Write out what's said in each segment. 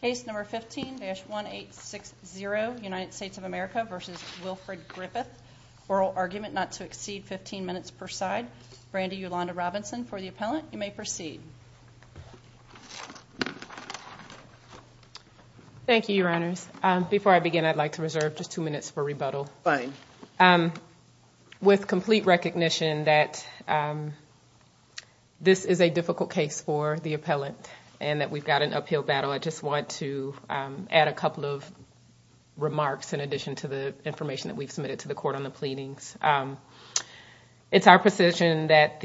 Case number 15-1860, United States of America v. Wilfred Griffith. Oral argument not to exceed 15 minutes per side. Brandi Ulanda-Robinson for the appellant. You may proceed. Thank you, Your Honors. Before I begin, I'd like to reserve just two minutes for rebuttal. Fine. With complete recognition that this is a difficult case for the appellant and that we've got an uphill battle, I just want to add a couple of remarks in addition to the information that we've submitted to the court on the pleadings. It's our position that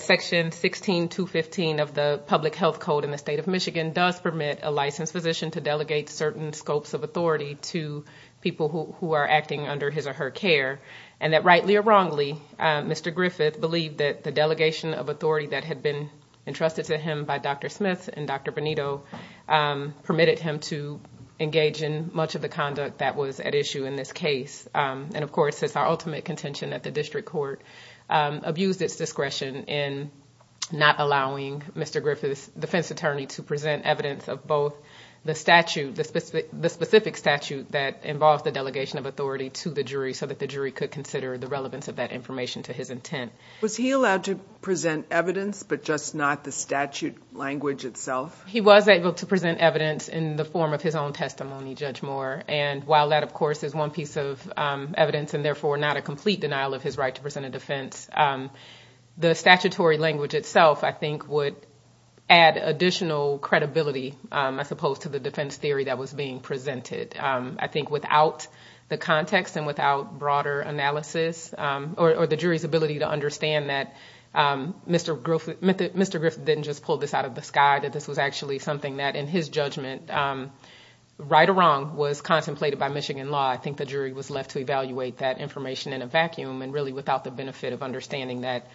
Section 16215 of the Public Health Code in the State of Michigan does permit a licensed physician to delegate certain scopes of authority to people who are acting under his or her care, and that rightly or wrongly, Mr. Griffith believed that the delegation of authority that had been entrusted to him by Dr. Smith and Dr. Benito permitted him to engage in much of the conduct that was at issue in this case. And, of course, it's our ultimate contention that the district court abused its discretion in not allowing Mr. Griffith to present evidence of both the statute, the specific statute that involves the delegation of authority to the jury so that the jury could consider the relevance of that information to his intent. Was he allowed to present evidence, but just not the statute language itself? He was able to present evidence in the form of his own testimony, Judge Moore. And while that, of course, is one piece of evidence and therefore not a complete denial of his right to present a defense, the statutory language itself, I think, would add additional credibility, I suppose, to the defense theory that was being presented. I think without the context and without broader analysis or the jury's ability to understand that Mr. Griffith didn't just pull this out of the sky, that this was actually something that, in his judgment, right or wrong, was contemplated by Michigan law. I think the jury was left to evaluate that information in a vacuum and really without the benefit of understanding that,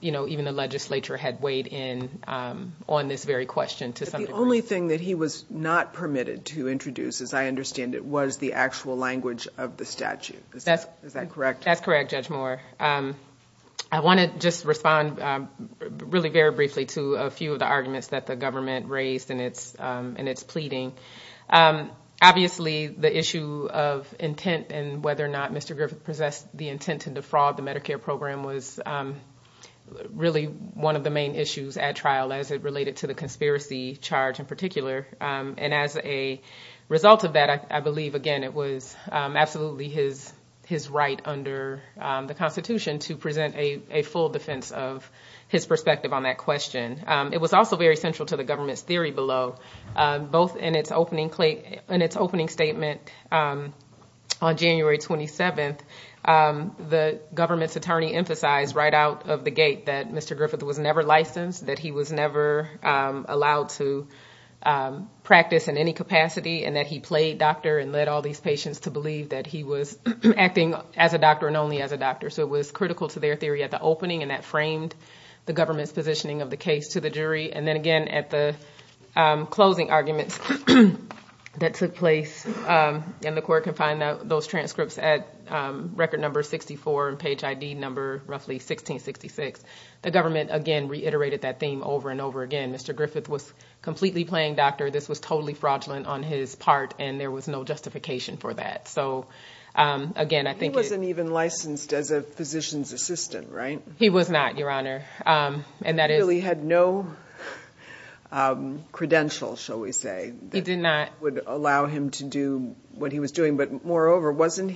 you know, even the legislature had weighed in on this very question to some degree. But the only thing that he was not permitted to introduce, as I understand it, was the actual language of the statute. Is that correct? That's correct, Judge Moore. I want to just respond really very briefly to a few of the arguments that the government raised in its pleading. Obviously, the issue of intent and whether or not Mr. Griffith possessed the intent to defraud the Medicare program was really one of the main issues at trial, as it related to the conspiracy charge in particular. And as a result of that, I believe, again, it was absolutely his right under the Constitution to present a full defense of his perspective on that question. It was also very central to the government's theory below. Both in its opening statement on January 27th, the government's attorney emphasized right out of the gate that Mr. Griffith was never licensed, that he was never allowed to practice in any capacity, and that he played doctor and led all these patients to believe that he was acting as a doctor and only as a doctor. So it was critical to their theory at the opening, and that framed the government's positioning of the case to the jury. And then, again, at the closing arguments that took place, and the court can find those transcripts at record number 64 and page ID number roughly 1666, the government, again, reiterated that theme over and over again. Mr. Griffith was completely playing doctor. This was totally fraudulent on his part, and there was no justification for that. He wasn't even licensed as a physician's assistant, right? He was not, Your Honor. He really had no credential, shall we say, that would allow him to do what he was doing. But moreover, wasn't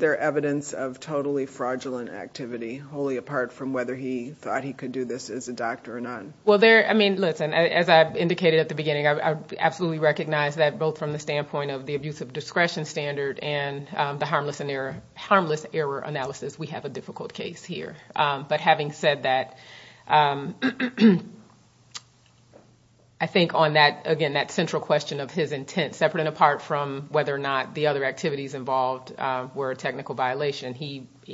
there evidence of totally fraudulent activity, wholly apart from whether he thought he could do this as a doctor or not? Well, I mean, listen, as I indicated at the beginning, I absolutely recognize that both from the standpoint of the abuse of discretion standard and the harmless error analysis, we have a difficult case here. But having said that, I think on that, again, that central question of his intent, separate and apart from whether or not the other activities involved were a technical violation,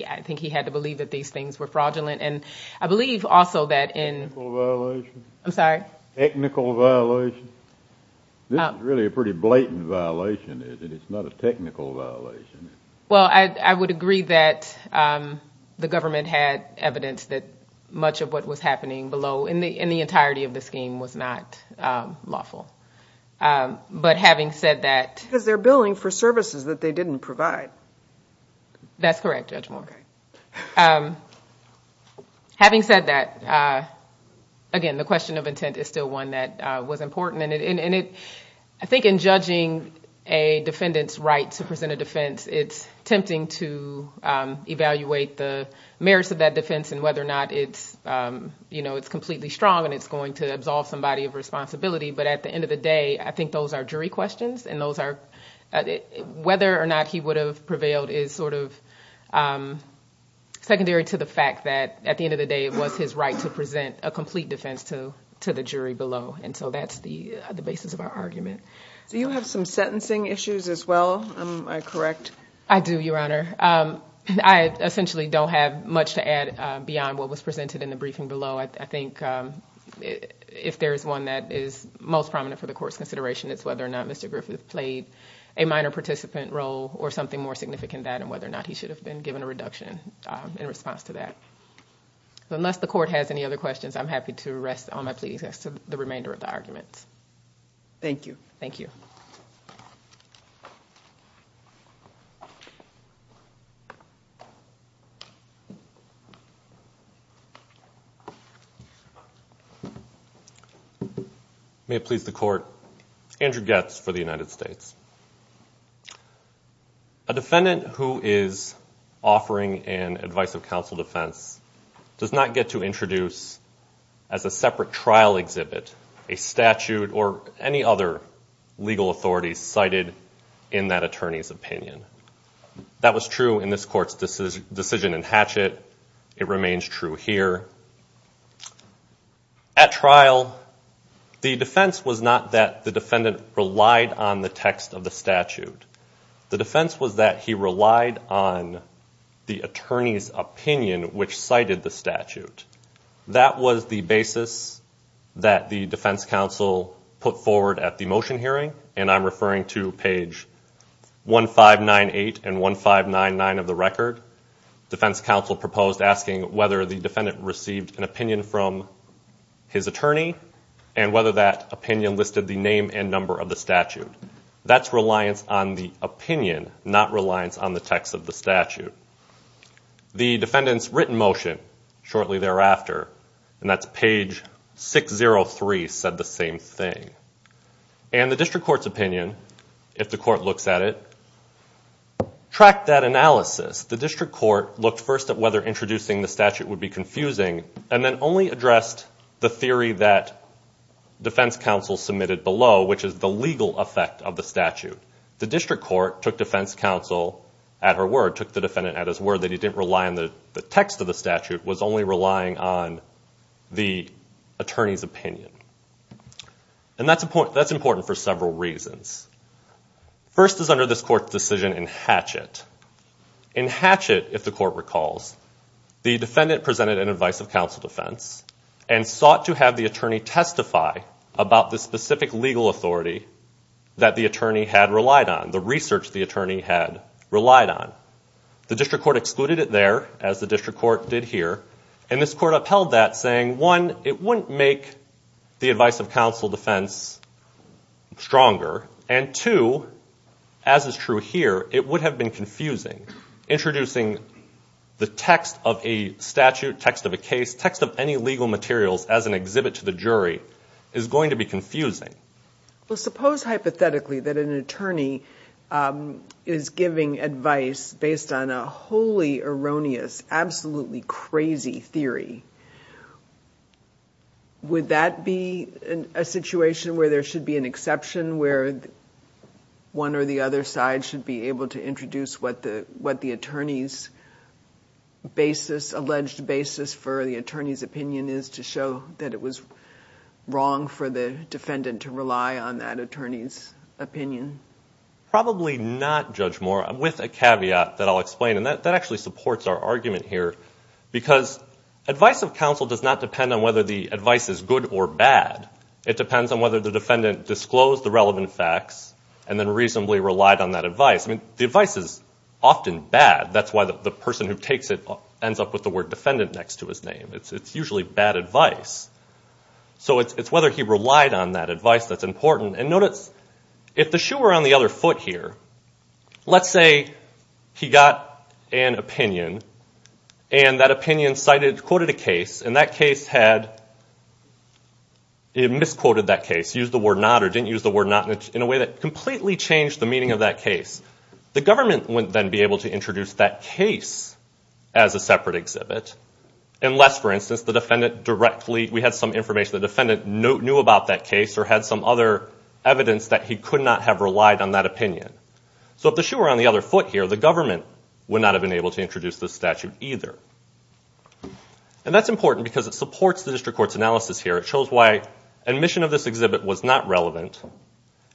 I think he had to believe that these things were fraudulent. And I believe also that in Technical violation? I'm sorry? Technical violation? This is really a pretty blatant violation, isn't it? It's not a technical violation. Well, I would agree that the government had evidence that much of what was happening below, in the entirety of the scheme, was not lawful. But having said that Because they're billing for services that they didn't provide. That's correct, Judge Moore. Having said that, again, the question of intent is still one that was important. And I think in judging a defendant's right to present a defense, it's tempting to evaluate the merits of that defense and whether or not it's completely strong and it's going to absolve somebody of responsibility. But at the end of the day, I think those are jury questions, and whether or not he would have prevailed is sort of secondary to the fact that, at the end of the day, it was his right to present a complete defense to the jury below. And so that's the basis of our argument. Do you have some sentencing issues as well? Am I correct? I do, Your Honor. I essentially don't have much to add beyond what was presented in the briefing below. I think if there is one that is most prominent for the Court's consideration, it's whether or not Mr. Griffith played a minor participant role or something more significant than that, and whether or not he should have been given a reduction in response to that. Unless the Court has any other questions, I'm happy to rest all my pleadings as to the remainder of the arguments. Thank you. Thank you. May it please the Court. Andrew Goetz for the United States. A defendant who is offering an advice of counsel defense does not get to introduce as a separate trial exhibit a statute or any other legal authority cited in that attorney's opinion. That was true in this Court's decision in Hatchett. It remains true here. At trial, the defense was not that the defendant relied on the text of the statute. The defense was that he relied on the attorney's opinion which cited the statute. That was the basis that the defense counsel put forward at the motion hearing, and I'm referring to page 1598 and 1599 of the record. Defense counsel proposed asking whether the defendant received an opinion from his attorney and whether that opinion listed the name and number of the statute. That's reliance on the opinion, not reliance on the text of the statute. The defendant's written motion shortly thereafter, and that's page 603, said the same thing. And the district court's opinion, if the court looks at it, tracked that analysis. The district court looked first at whether introducing the statute would be confusing and then only addressed the theory that defense counsel submitted below, which is the legal effect of the statute. The district court took defense counsel at her word, took the defendant at his word, that he didn't rely on the text of the statute, was only relying on the attorney's opinion. And that's important for several reasons. First is under this court's decision in Hatchett. In Hatchett, if the court recalls, the defendant presented an advice of counsel defense and sought to have the attorney testify about the specific legal authority that the attorney had relied on, the research the attorney had relied on. The district court excluded it there, as the district court did here, and this court upheld that, saying, one, it wouldn't make the advice of counsel defense stronger, and two, as is true here, it would have been confusing. Introducing the text of a statute, text of a case, text of any legal materials as an exhibit to the jury, is going to be confusing. Well, suppose hypothetically that an attorney is giving advice based on a wholly erroneous, absolutely crazy theory. Would that be a situation where there should be an exception, where one or the other side should be able to introduce what the attorney's basis, alleged basis for the attorney's opinion is, to show that it was wrong for the defendant to rely on that attorney's opinion? Probably not, Judge Moore. With a caveat that I'll explain, and that actually supports our argument here, because advice of counsel does not depend on whether the advice is good or bad. It depends on whether the defendant disclosed the relevant facts and then reasonably relied on that advice. I mean, the advice is often bad. That's why the person who takes it ends up with the word defendant next to his name. It's usually bad advice. So it's whether he relied on that advice that's important. And notice, if the shoe were on the other foot here, let's say he got an opinion, and that opinion cited, quoted a case, and that case had misquoted that case, used the word not or didn't use the word not, in a way that completely changed the meaning of that case. The government wouldn't then be able to introduce that case as a separate exhibit, unless, for instance, the defendant directly, we had some information, in which case the defendant knew about that case or had some other evidence that he could not have relied on that opinion. So if the shoe were on the other foot here, the government would not have been able to introduce this statute either. And that's important because it supports the district court's analysis here. It shows why admission of this exhibit was not relevant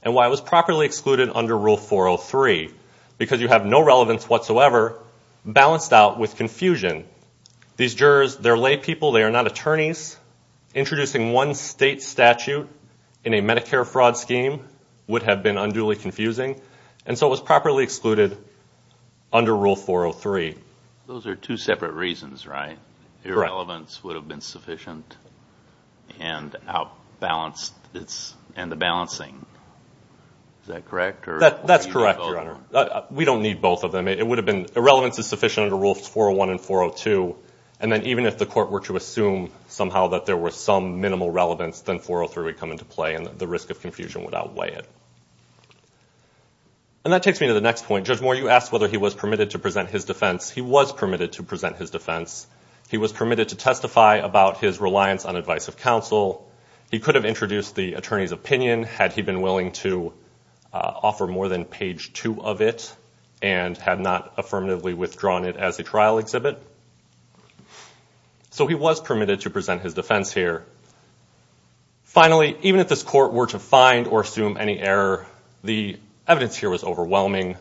and why it was properly excluded under Rule 403, because you have no relevance whatsoever balanced out with confusion. These jurors, they're lay people. They are not attorneys. Introducing one state statute in a Medicare fraud scheme would have been unduly confusing, and so it was properly excluded under Rule 403. Those are two separate reasons, right? Irrelevance would have been sufficient and the balancing. Is that correct? That's correct, Your Honor. We don't need both of them. Irrelevance is sufficient under Rules 401 and 402, and then even if the court were to assume somehow that there was some minimal relevance, then 403 would come into play and the risk of confusion would outweigh it. And that takes me to the next point. Judge Moore, you asked whether he was permitted to present his defense. He was permitted to present his defense. He was permitted to testify about his reliance on advice of counsel. He could have introduced the attorney's opinion had he been willing to offer more than page 2 of it and had not affirmatively withdrawn it as a trial exhibit. So he was permitted to present his defense here. Finally, even if this court were to find or assume any error, the evidence here was overwhelming.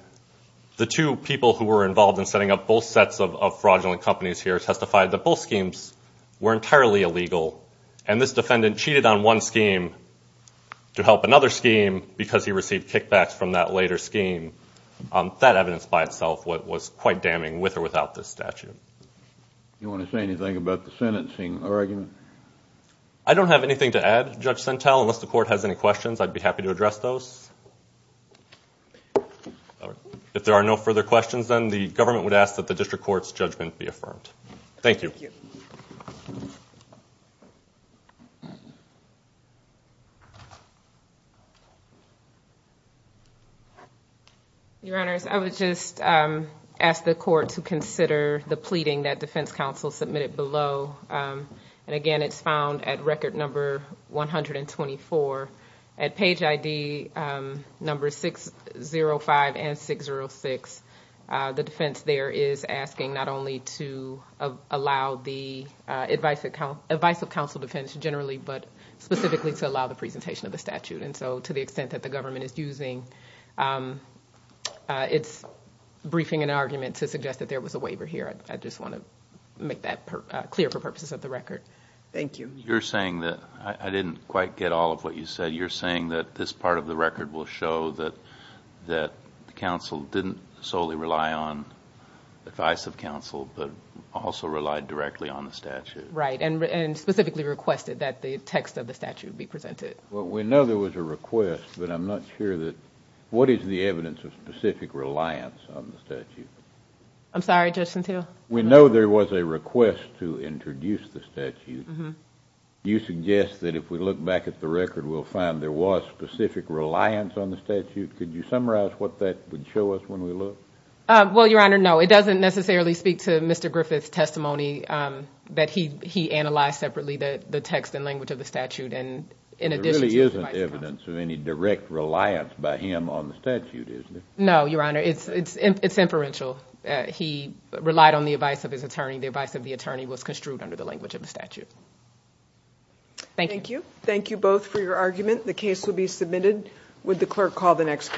The two people who were involved in setting up both sets of fraudulent companies here testified that both schemes were entirely illegal, and this defendant cheated on one scheme to help another scheme because he received kickbacks from that later scheme. That evidence by itself was quite damning with or without this statute. Do you want to say anything about the sentencing argument? I don't have anything to add, Judge Sentell. Unless the court has any questions, I'd be happy to address those. If there are no further questions, then the government would ask that the district court's judgment be affirmed. Thank you. Your Honors, I would just ask the court to consider the pleading that defense counsel submitted below. Again, it's found at record number 124. At page ID number 605 and 606, the defense there is asking not only to allow the advice of counsel to finish generally, but specifically to allow the presentation of the statute. To the extent that the government is using its briefing and argument to suggest that there was a waiver here, I just want to make that clear for purposes of the record. Thank you. You're saying that, I didn't quite get all of what you said, you're saying that this part of the record will show that the counsel didn't solely rely on advice of counsel, but also relied directly on the statute? Right, and specifically requested that the text of the statute be presented. Well, we know there was a request, but I'm not sure that what is the evidence of specific reliance on the statute? I'm sorry, Judge Sentell? We know there was a request to introduce the statute. Do you suggest that if we look back at the record, we'll find there was specific reliance on the statute? Could you summarize what that would show us when we look? Well, Your Honor, no. It doesn't necessarily speak to Mr. Griffith's testimony that he analyzed separately the text and language of the statute. There really isn't evidence of any direct reliance by him on the statute, is there? No, Your Honor. It's inferential. He relied on the advice of his attorney. The advice of the attorney was construed under the language of the statute. Thank you. Thank you both for your argument. The case will be submitted. Would the clerk call the next case?